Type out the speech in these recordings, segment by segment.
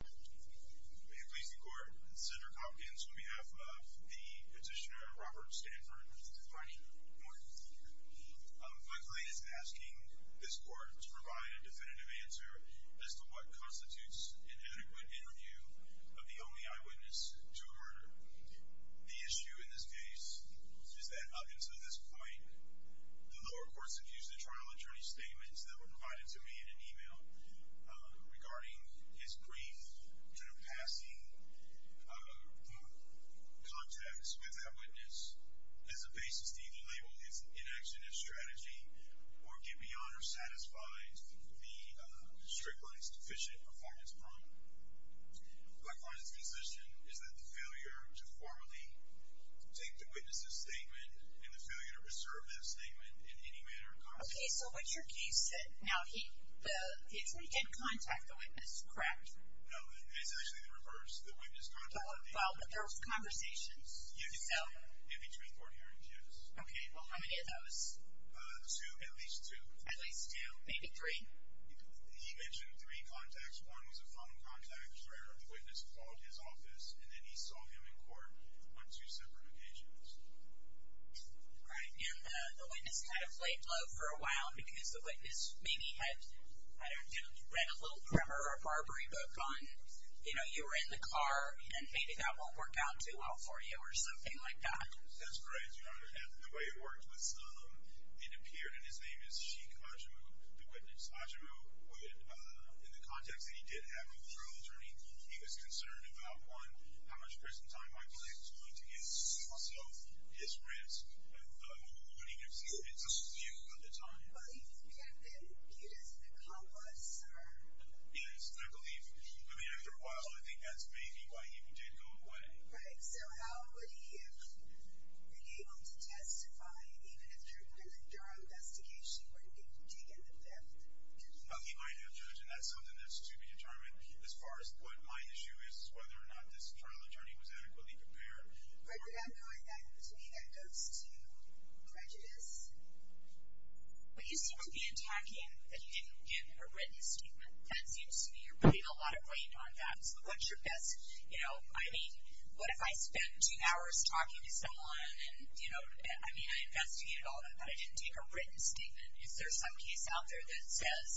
May it please the court, Cedric Hopkins on behalf of the petitioner Robert Stanford, III. I'm quickly asking this court to provide a definitive answer as to what constitutes an adequate interview of the only eyewitness to a murder. The issue in this case is that up until this point, the lower courts have used the trial attorney statements that were provided to me in an email regarding his brief, sort of passing the context with that witness as a basis to either label his inaction as strategy, or get beyond or satisfy the strictly deficient performance problem. My client's position is that the failure to formally take the witness's statement and the failure to reserve that statement in any manner... Okay, so what your case said. Now, he did contact the witness, correct? No, it's actually the reverse. The witness contacted him. Well, but there was conversations. Yes, in between court hearings, yes. Okay, well, how many of those? Two, at least two. At least two, maybe three. He mentioned three contacts. One was a phone contact, where the witness called his office, and then he saw him in court on two separate occasions. Right, and the witness kind of laid low for a while, because the witness maybe had, I don't know, read a little grammar or a Barbary book on, you know, you were in the car, and maybe that won't work out too well for you, or something like that. That's correct, Your Honor. And the way it worked was, it appeared, and his name is Sheik Ajimu, the witness. Ajimu would, in the context that he did have a trial attorney, he was concerned about, one, how much prison time my client was going to get, so his risk, what he could see, it's a few at a time. Well, he could have been viewed as a complex, or... Yes, I believe, I mean, after a while, I think that's maybe why he even did go away. Right, so how would he have been able to testify, even if your investigation wouldn't have taken the fifth? Well, he might have judged, and that's something that's to be determined, as far as what my issue is, whether or not this trial attorney was adequately prepared. But you're not going back to any anecdotes to prejudice? But you seem to be attacking that you didn't give a written statement. That seems to be, you're putting a lot of weight on that. What's your best, you know, I mean, what if I spent two hours talking to someone, and, you know, I mean, I investigated all of that, but I didn't take a written statement. Is there some case out there that says,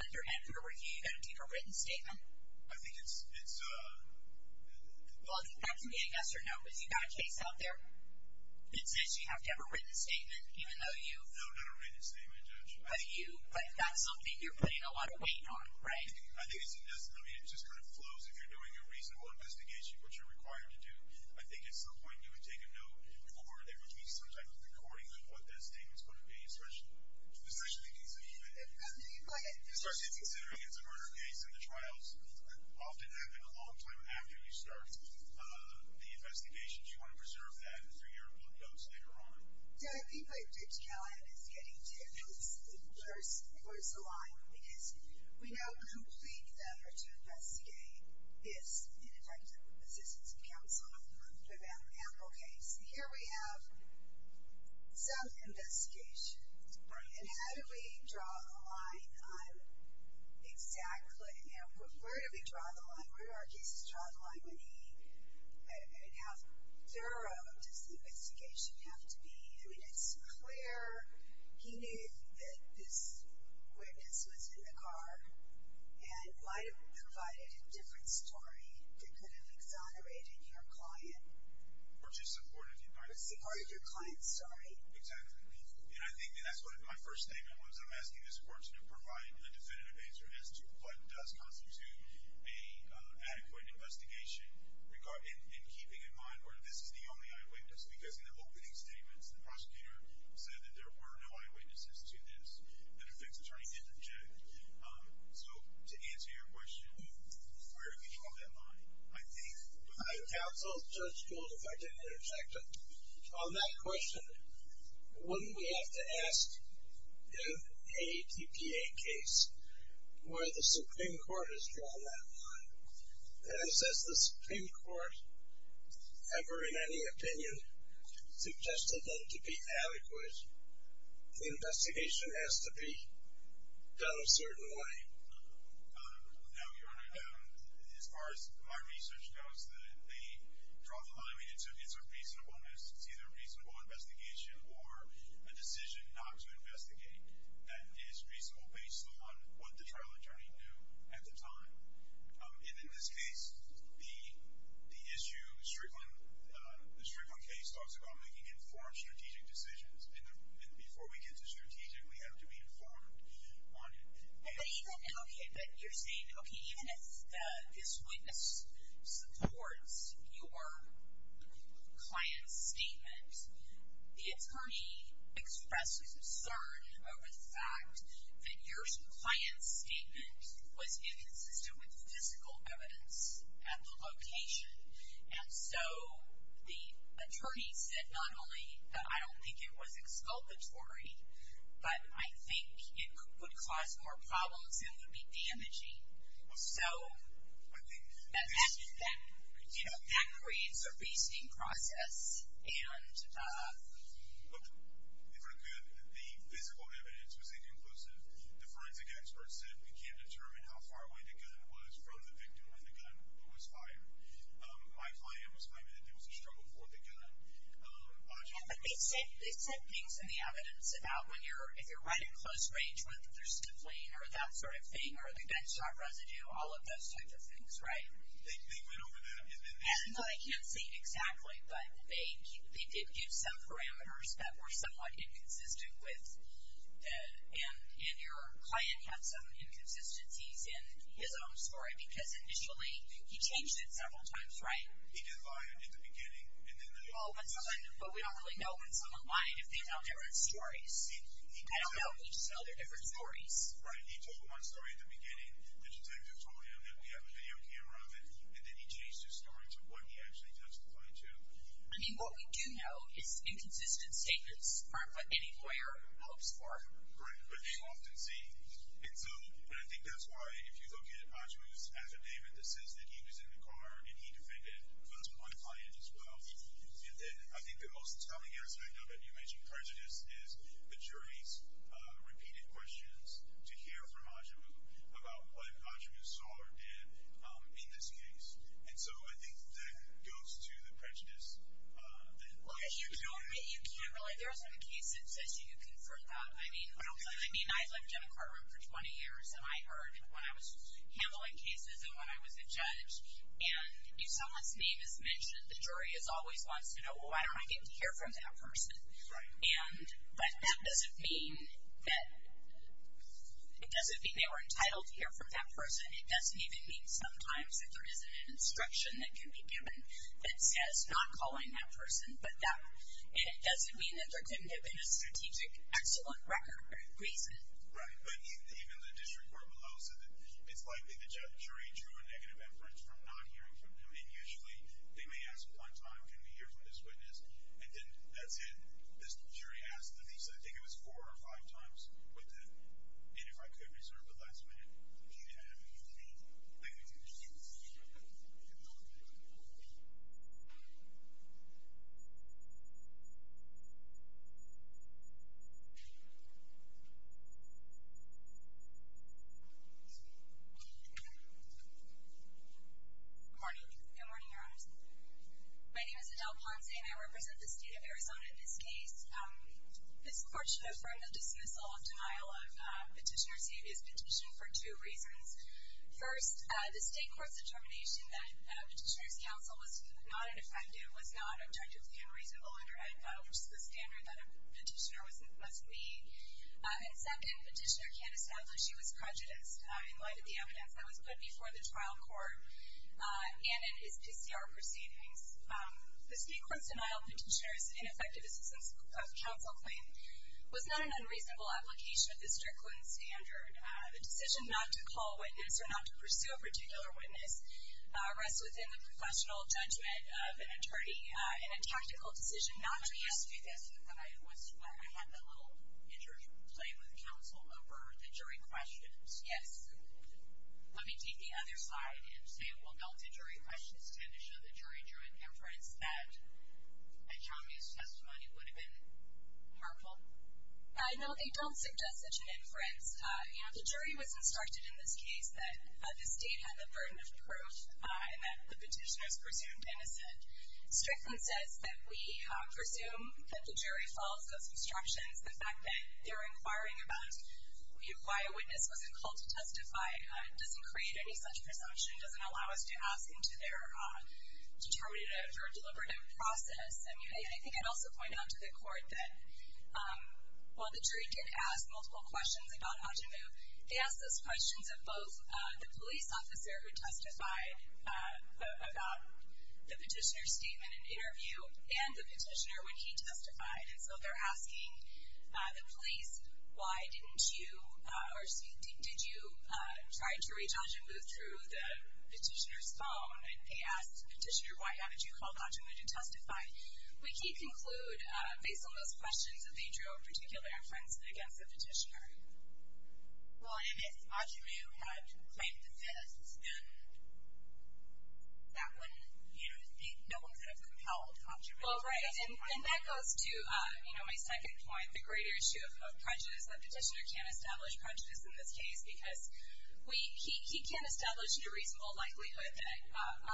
under Edgar Review, you've got to take a written statement? I think it's... Well, that can be a yes or no, but you've got a case out there that says you have to have a written statement, even though you... No, not a written statement, Judge. But you, that's something you're putting a lot of weight on, right? I think it's, I mean, it just kind of flows if you're doing a reasonable investigation, what you're required to do. I think at some point you would take a note, or there would be some type of recording of what that statement's going to be, especially considering it's a murder case, and the trials often happen a long time after you start the investigation. Do you want to preserve that through your applications later on? So I think what you're getting to is, first, where's the line? Because we know a complete effort to investigate this ineffective assistance accounts on a criminal case. And here we have some investigation. Right. And how do we draw the line on exactly, you know, where do we draw the line? Where do our cases draw the line when he, I mean, how thorough does the investigation have to be? I mean, it's clear he knew that this witness was in the car and might have provided a different story that could have exonerated your client. Or just supported your client's story. Exactly. And I think that's what my first statement was. I'm asking this court to provide a definitive answer as to what does constitute an adequate investigation in keeping in mind where this is the only eyewitness. Because in the opening statements, the prosecutor said that there were no eyewitnesses to this. The defense attorney didn't object. So to answer your question, where do we draw that line? Counsel, Judge Gould, if I didn't interject. On that question, wouldn't we have to ask in a TPA case where the Supreme Court has drawn that line? And as the Supreme Court ever in any opinion suggested them to be adequate, the investigation has to be done a certain way. No, Your Honor. As far as my research goes, they draw the line. I mean, it's a reasonableness. It's either a reasonable investigation or a decision not to investigate that is reasonable based on what the trial attorney knew at the time. And in this case, the issue, the Strickland case talks about making informed strategic decisions. And before we get to strategic, we have to be informed. But even, okay, but you're saying, okay, even if this witness supports your client's statement, the attorney expresses concern over the fact that your client's statement was inconsistent with physical evidence at the location. And so, the attorney said not only that I don't think it was exculpatory, but I think it would cause more problems and would be damaging. So, that creates a basting process. The physical evidence was inconclusive. The forensic experts said we can't determine how far away the gun was from the victim when the gun was fired. My client was claiming that there was a struggle for the gun. Yeah, but they said things in the evidence about when you're, if you're right at close range, whether there's stifling or that sort of thing, or the gunshot residue, all of those types of things, right? They went over that. No, I can't say exactly, but they did give some parameters that were somewhat inconsistent with, and your client had some inconsistencies in his own story, because initially he changed it several times, right? He didn't lie in the beginning. Well, but we don't really know when someone lied if they tell different stories. I don't know, we just know they're different stories. Right, he told my story at the beginning. The detective told him that we have a video camera of it, and then he changed his story to what he actually touched the client to. I mean, what we do know is inconsistent statements aren't what any lawyer hopes for. Right, but they often see. And so, and I think that's why, if you look at Ajmu's affidavit that says that he was in the car and he defended, that's my client as well, and then I think the most telling aspect of it, you mentioned prejudice, is the jury's repeated questions to hear from Ajmu about what Ajmu saw or did in this case. And so I think that goes to the prejudice that Ajmu had. Well, you can't really, there isn't a case that says you confirmed that. I mean, I've lived in a car room for 20 years, and I heard when I was handling cases and when I was a judge, and if someone's name is mentioned, the jury always wants to know, well, why don't I get to hear from that person? Right. But that doesn't mean that they were entitled to hear from that person. It doesn't even mean sometimes that there isn't an instruction that can be given that says not calling that person. And it doesn't mean that there couldn't have been a strategic excellent reason. Right, but even the district court below said that it's likely the jury drew a negative inference from not hearing from him, and usually they may ask one time, can we hear from this witness, and then that's it. This jury asked at least, I think it was four or five times with it, and if I could reserve the last minute, I would do it again. Good morning. Good morning, Your Honors. My name is Adele Ponce, and I represent the state of Arizona in this case. This court should affirm the dismissal of denial of Petitioner Savio's petition for two reasons. First, the state court's determination that Petitioner's counsel was not an offender, was not objectively unreasonable under Edna, which is the standard that a petitioner must meet. And second, Petitioner can't establish he was prejudiced in light of the evidence that was put before the trial court and in his PCR proceedings. The state court's denial of Petitioner's ineffective assistance of counsel claim was not an unreasonable application of the Strickland standard. The decision not to call a witness or not to pursue a particular witness rests within the professional judgment of an attorney, and a tactical decision not to do this. I had that little interplay with counsel over the jury questions. Yes. Let me take the other side and say it will help the jury questions tend to show the jury joint inference that a Chavez testimony would have been harmful. No, they don't suggest such an inference. The jury was instructed in this case that the state had the burden of proof and that the petitioner is presumed innocent. Strickland says that we presume that the jury follows those instructions. The fact that they're inquiring about why a witness wasn't called to testify doesn't create any such presumption, doesn't allow us to ask into their determinative or deliberative process. And I think I'd also point out to the court that while the jury did ask multiple questions about how to move, they asked those questions of both the police officer who testified about the petitioner's statement in interview and the petitioner when he testified. And so they're asking the police, why didn't you, or did you try to reach Ajamu through the petitioner's phone? And they asked the petitioner, why haven't you called Ajamu to testify? We can conclude, based on those questions, that they drew a particular inference against the petitioner. Well, and if Ajamu had claimed the theft, then that wouldn't, you know, no one could have compelled Ajamu to testify. Well, right. And that goes to, you know, my second point, the greater issue of prejudice, that the petitioner can't establish prejudice in this case because he can't establish the reasonable likelihood that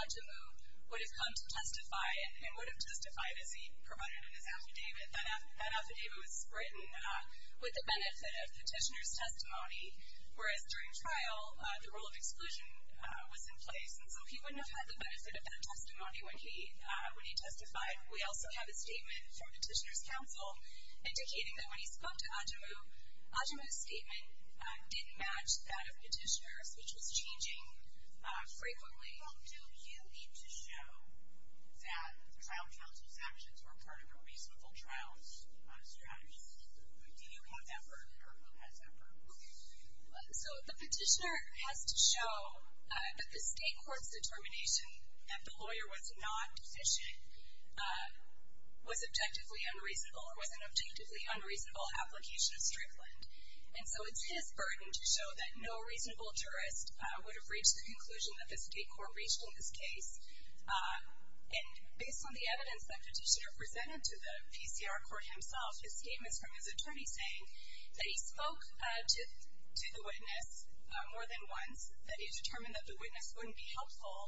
Ajamu would have come to testify and would have testified as he provided in his affidavit. That affidavit was written with the benefit of the petitioner's testimony, whereas during trial the rule of exclusion was in place. And so he wouldn't have had the benefit of that testimony when he testified. We also have a statement from the petitioner's counsel indicating that when he spoke to Ajamu, Ajamu's statement didn't match that of the petitioner's, which was changing frequently. Well, do you need to show that the trial counsel's actions were part of a reasonable trial's strategy? Do you have that word, or who has that word? So the petitioner has to show that the state court's determination that the lawyer was not deficient was objectively unreasonable or was an objectively unreasonable application of Strickland. And so it's his burden to show that no reasonable jurist would have reached the conclusion that the state court reached in this case. And based on the evidence the petitioner presented to the PCR court himself, his statement is from his attorney saying that he spoke to the witness more than once, that he determined that the witness wouldn't be helpful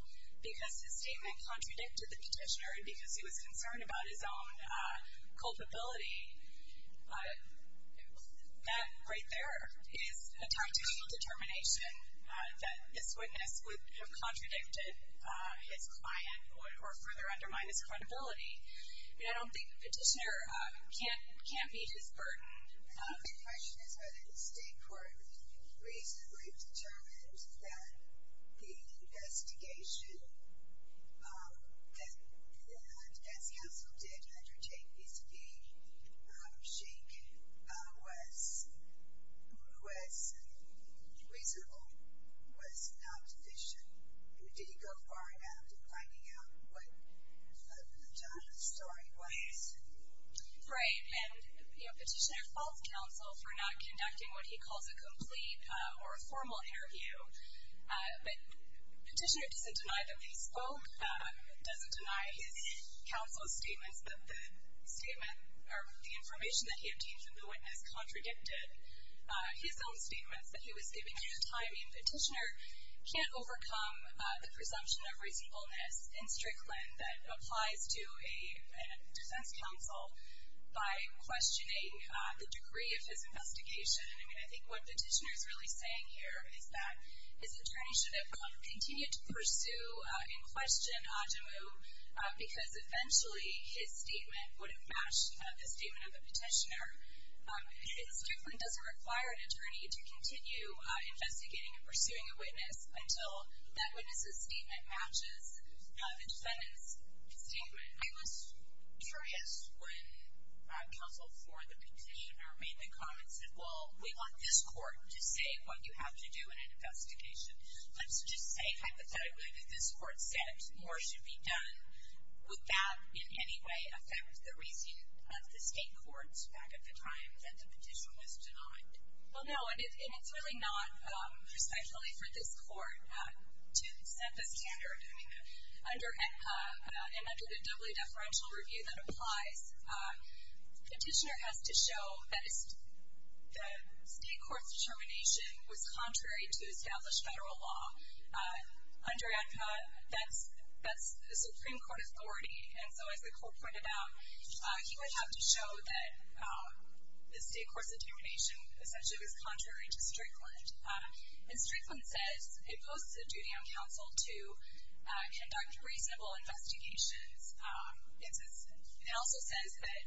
because his statement contradicted the petitioner and because he was concerned about his own culpability. That right there is a tactical determination that this witness would have contradicted his client or further undermine his credibility. I mean, I don't think the petitioner can't meet his burden. The question is whether the state court reasonably determined that the investigation that, as counsel did undertake, was reasonable, was not deficient. Did he go far enough in finding out what the story was? Right. And the petitioner falls counsel for not conducting what he calls a complete or a formal interview. But the petitioner doesn't deny that he spoke, doesn't deny his counsel's statements that the statement, or the information that he obtained from the witness contradicted his own statements, that he was giving at the time. I mean, the petitioner can't overcome the presumption of reasonableness in Strickland that applies to a defense counsel by questioning the degree of his investigation. I mean, I think what the petitioner is really saying here is that his attorney should have continued to pursue and question Adjomou because eventually his statement would have matched the statement of the petitioner. Strickland doesn't require an attorney to continue investigating and pursuing a witness until that witness's statement matches the defendant's statement. I was curious when counsel for the petitioner made the comment, said, well, we want this court to say what you have to do in an investigation. Let's just say hypothetically that this court said more should be done. Would that in any way affect the reasoning of the state courts back at the time that the petitioner was denied? Well, no, and it's really not precisely for this court to set the standard. I mean, under AEDPA and under the doubly deferential review that applies, the petitioner has to show that the state court's determination was contrary to established Federal law. Under AEDPA, that's the Supreme Court authority, and so as the court pointed out, he would have to show that the state court's determination essentially was contrary to Strickland. And Strickland says it posts a duty on counsel to conduct reasonable investigations. It also says that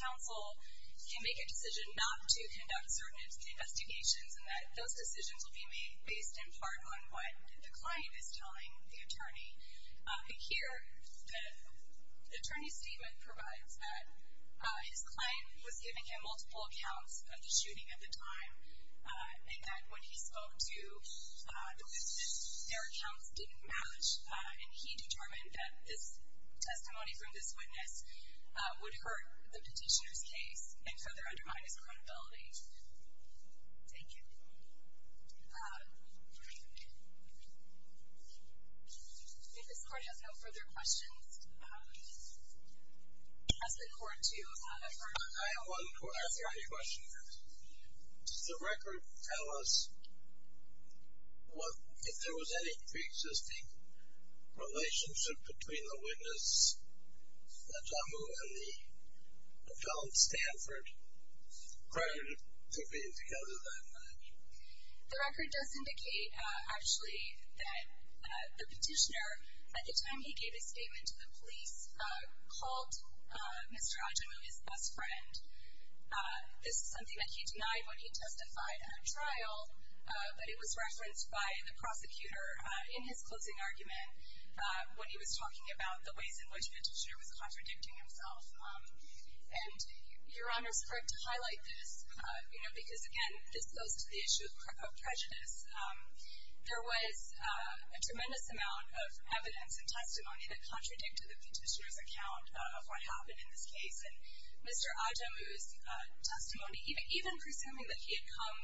counsel can make a decision not to conduct certain investigations and that those decisions will be made based in part on what the client is telling the attorney. Here, the attorney's statement provides that his client was giving him multiple accounts of the shooting at the time, and that when he spoke to the witness, their accounts didn't match, and he determined that this testimony from this witness would hurt the petitioner's case and further undermine his credibility. Thank you. I think this court has no further questions. Has the court two? I have one question. Does the record tell us if there was any preexisting relationship between the witness, Ajamu, and the felon, Stanford, prior to being together that night? The record does indicate, actually, that the petitioner, at the time he gave his statement to the police, called Mr. Ajamu his best friend. This is something that he denied when he testified at a trial, but it was referenced by the prosecutor in his closing argument when he was talking about the ways in which the petitioner was contradicting himself. And Your Honor's correct to highlight this because, again, this goes to the issue of prejudice. There was a tremendous amount of evidence and testimony that contradicted the petitioner's account of what happened in this case, and Mr. Ajamu's testimony, even presuming that he had come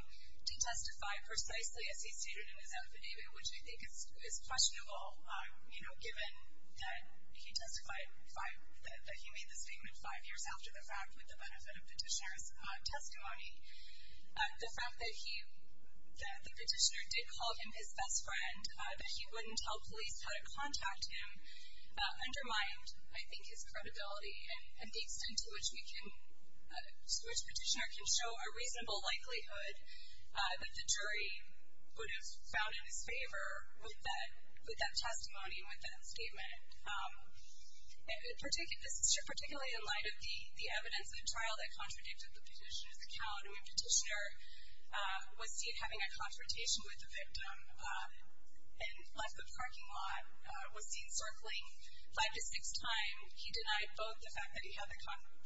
to testify precisely as he stated in his affidavit, which I think is questionable, you know, given that he testified, that he made this statement five years after the fact with the benefit of petitioner's testimony. The fact that he, that the petitioner did call him his best friend, that he wouldn't tell police how to contact him undermined, I think, his credibility and the extent to which we can, to which the petitioner can show a reasonable likelihood that the jury would have found in his favor with that testimony and with that statement. Particularly in light of the evidence in the trial that contradicted the petitioner's account, when the petitioner was seen having a confrontation with the victim and left the parking lot, was seen circling five to six times, he denied both the fact that he had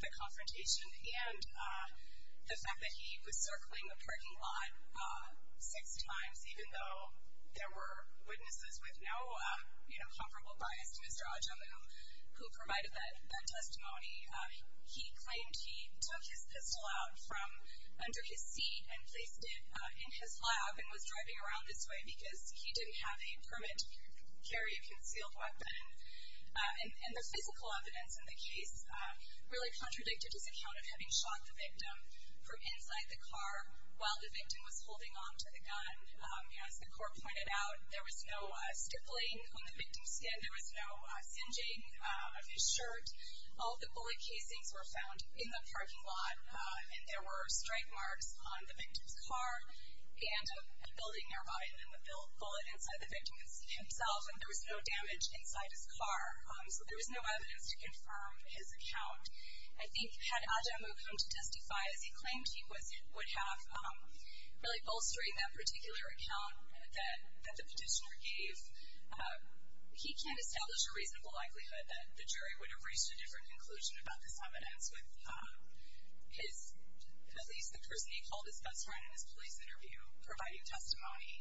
the confrontation and the fact that he was circling the parking lot six times, even though there were witnesses with no, you know, comparable bias to Mr. Ajamu, who provided that testimony. He claimed he took his pistol out from under his seat and placed it in his lab and was driving around this way because he didn't have a permit to carry a concealed weapon. And the physical evidence in the case really contradicted his account of having shot the victim from inside the car while the victim was holding on to the gun. As the court pointed out, there was no stippling on the victim's skin. There was no singeing of his shirt. All the bullet casings were found in the parking lot, and there were strike marks on the victim's car and a building nearby. There was no bullet inside the victim himself, and there was no damage inside his car. So there was no evidence to confirm his account. I think had Ajamu come to testify as he claimed he would have, really bolstering that particular account that the petitioner gave, he can establish a reasonable likelihood that the jury would have reached a different conclusion about this evidence with his police, the person he called his best friend in his police interview, providing testimony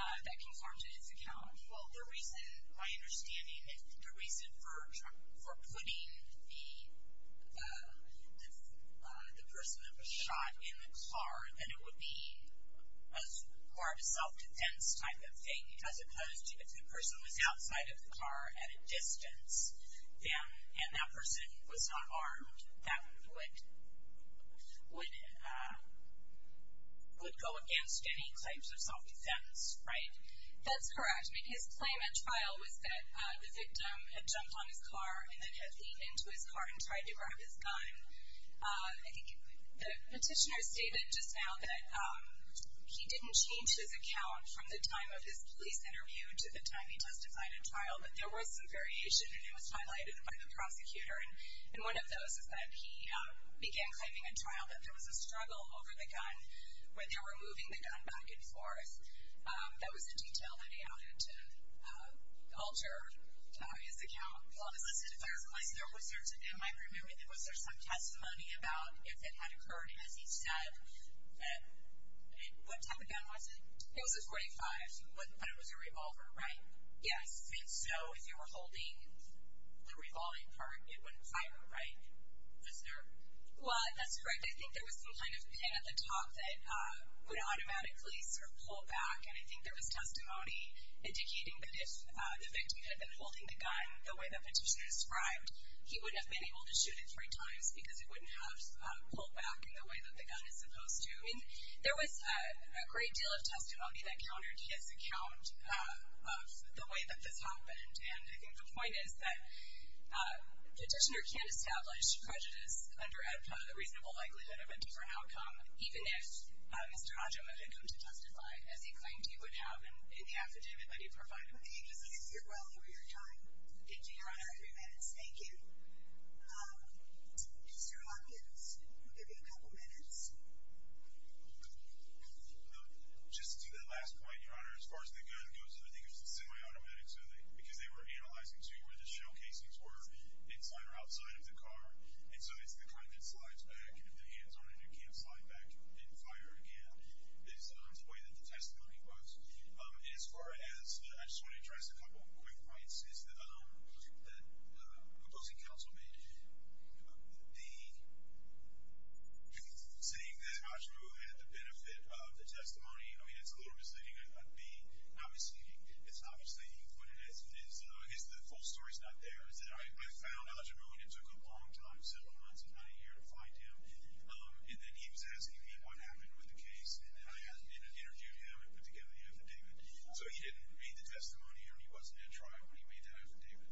that conformed to his account. Well, the reason, my understanding is the reason for putting the person that was shot in the car, that it would be more of a self-defense type of thing, as opposed to if the person was outside of the car at a distance, and that person was not armed, that would go against any claims of self-defense, right? That's correct. I mean, his claim at trial was that the victim had jumped on his car and then had leaned into his car and tried to grab his gun. I think the petitioner stated just now that he didn't change his account from the time of his police interview to the time he testified at trial, but there was some variation, and it was highlighted by the prosecutor. And one of those is that he began claiming at trial that there was a struggle over the gun, where they were moving the gun back and forth. That was a detail that he added to alter his account. Well, listen, first of all, am I remembering, was there some testimony about if it had occurred, as he said? What type of gun was it? It was a .45, but it was a revolver, right? Yes. And so if you were holding the revolving part, it wouldn't fire, right? Was there? Well, that's correct. I think there was some kind of pin at the top that would automatically sort of pull back, and I think there was testimony indicating that if the victim had been holding the gun the way the petitioner described, he wouldn't have been able to shoot it three times because it wouldn't have pulled back in the way that the gun is supposed to. I mean, there was a great deal of testimony that countered his account of the way that this happened, and I think the point is that the petitioner can't establish prejudice under a reasonable likelihood of a different outcome, even if Mr. Hodge would have come to testify, as he claimed he would have in the affidavit that he provided. Thank you. I think you did well over your time. Thank you, Your Honor. That was three minutes. Thank you. Mr. Hopkins, we'll give you a couple minutes. Just to do that last point, Your Honor, as far as the gun goes, I think it was a semi-automatic, because they were analyzing to where the shell casings were inside or outside of the car, and so it's the kind that slides back, and if the hand's on it, it can't slide back and fire again, is the way that the testimony was. I just want to address a couple quick points that the opposing counsel made. The saying that Hodge knew had the benefit of the testimony, I mean, it's a little misleading. I'd be not misleading. It's not misleading when the full story's not there. I found Hodge, and it took a long time, several months, if not a year, to find him, and then he was asking me what happened with the case, and then I interviewed him and put together the affidavit. So he didn't read the testimony, or he wasn't at trial when he made that affidavit.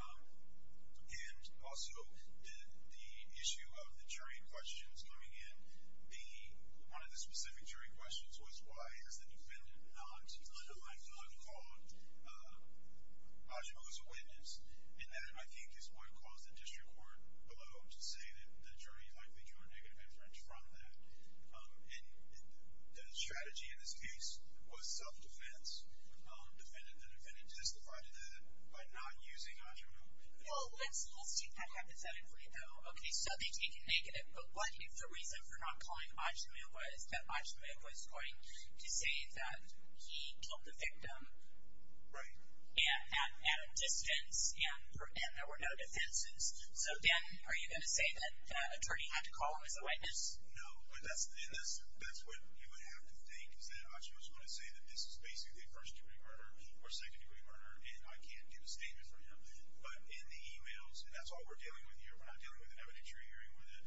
And also, the issue of the jury questions coming in, one of the specific jury questions was, why is the defendant not on the line, not caught? Hodge was a witness, and that, I think, is what caused the district court below to say that the jury likely drew a negative inference from that. And the strategy in this case was self-defense. The defendant justified that by not using Hodge. Well, let's take that hypothetically, though. Okay, so they take a negative, but what if the reason for not calling Hodge was that Hodge was going to say that he killed the victim at a distance and there were no defenses? So then are you going to say that the attorney had to call him as a witness? No, and that's what you would have to think, is that Hodge was going to say that this is basically a first-degree murder or second-degree murder and I can't give a statement for him. But in the e-mails, and that's all we're dealing with here. We're not dealing with an evidentiary hearing where the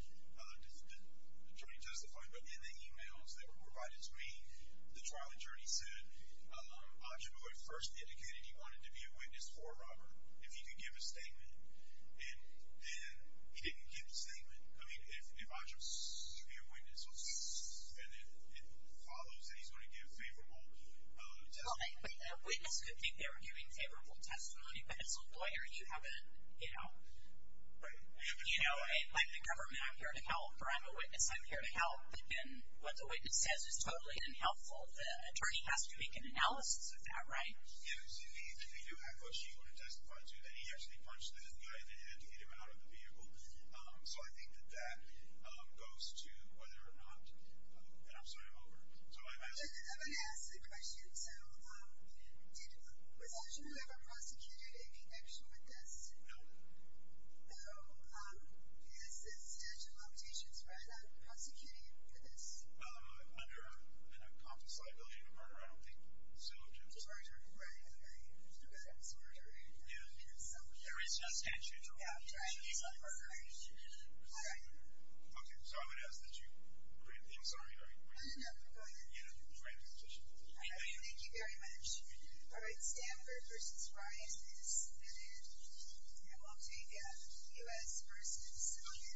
attorney testified. But in the e-mails that were provided to me, the trial attorney said Hodge really first indicated he wanted to be a witness for Robert if he could give a statement. And then he didn't give a statement. I mean, if Hodge was to be a witness and it follows that he's going to give favorable testimony. Well, a witness could think they were giving favorable testimony, but as a lawyer, you have a, you know. Right. You know, like the government, I'm here to help, or I'm a witness, I'm here to help. Then what the witness says is totally unhelpful. The attorney has to make an analysis of that, right? Yes, if you do have Hodge, you want to testify to that he actually punched this guy in the head to get him out of the vehicle. So I think that that goes to whether or not, and I'm sorry, I'm over. I'm going to ask a question. So did Hodge ever prosecuted in connection with this? No. No. Is the statute of limitations for prosecuting for this? Under an accomplished liability of murder, I don't think so. Murder, right. Right. It's murder, right? Yeah. There is no statute. Yeah, right. It's not murder. All right. Okay, so I'm going to ask that you print these. I'm sorry, are you printing? No, go ahead. Yeah, you can print the petition. Thank you. Thank you very much. All right, Stanford versus Rice is submitted. And we'll take a U.S. versus civilian.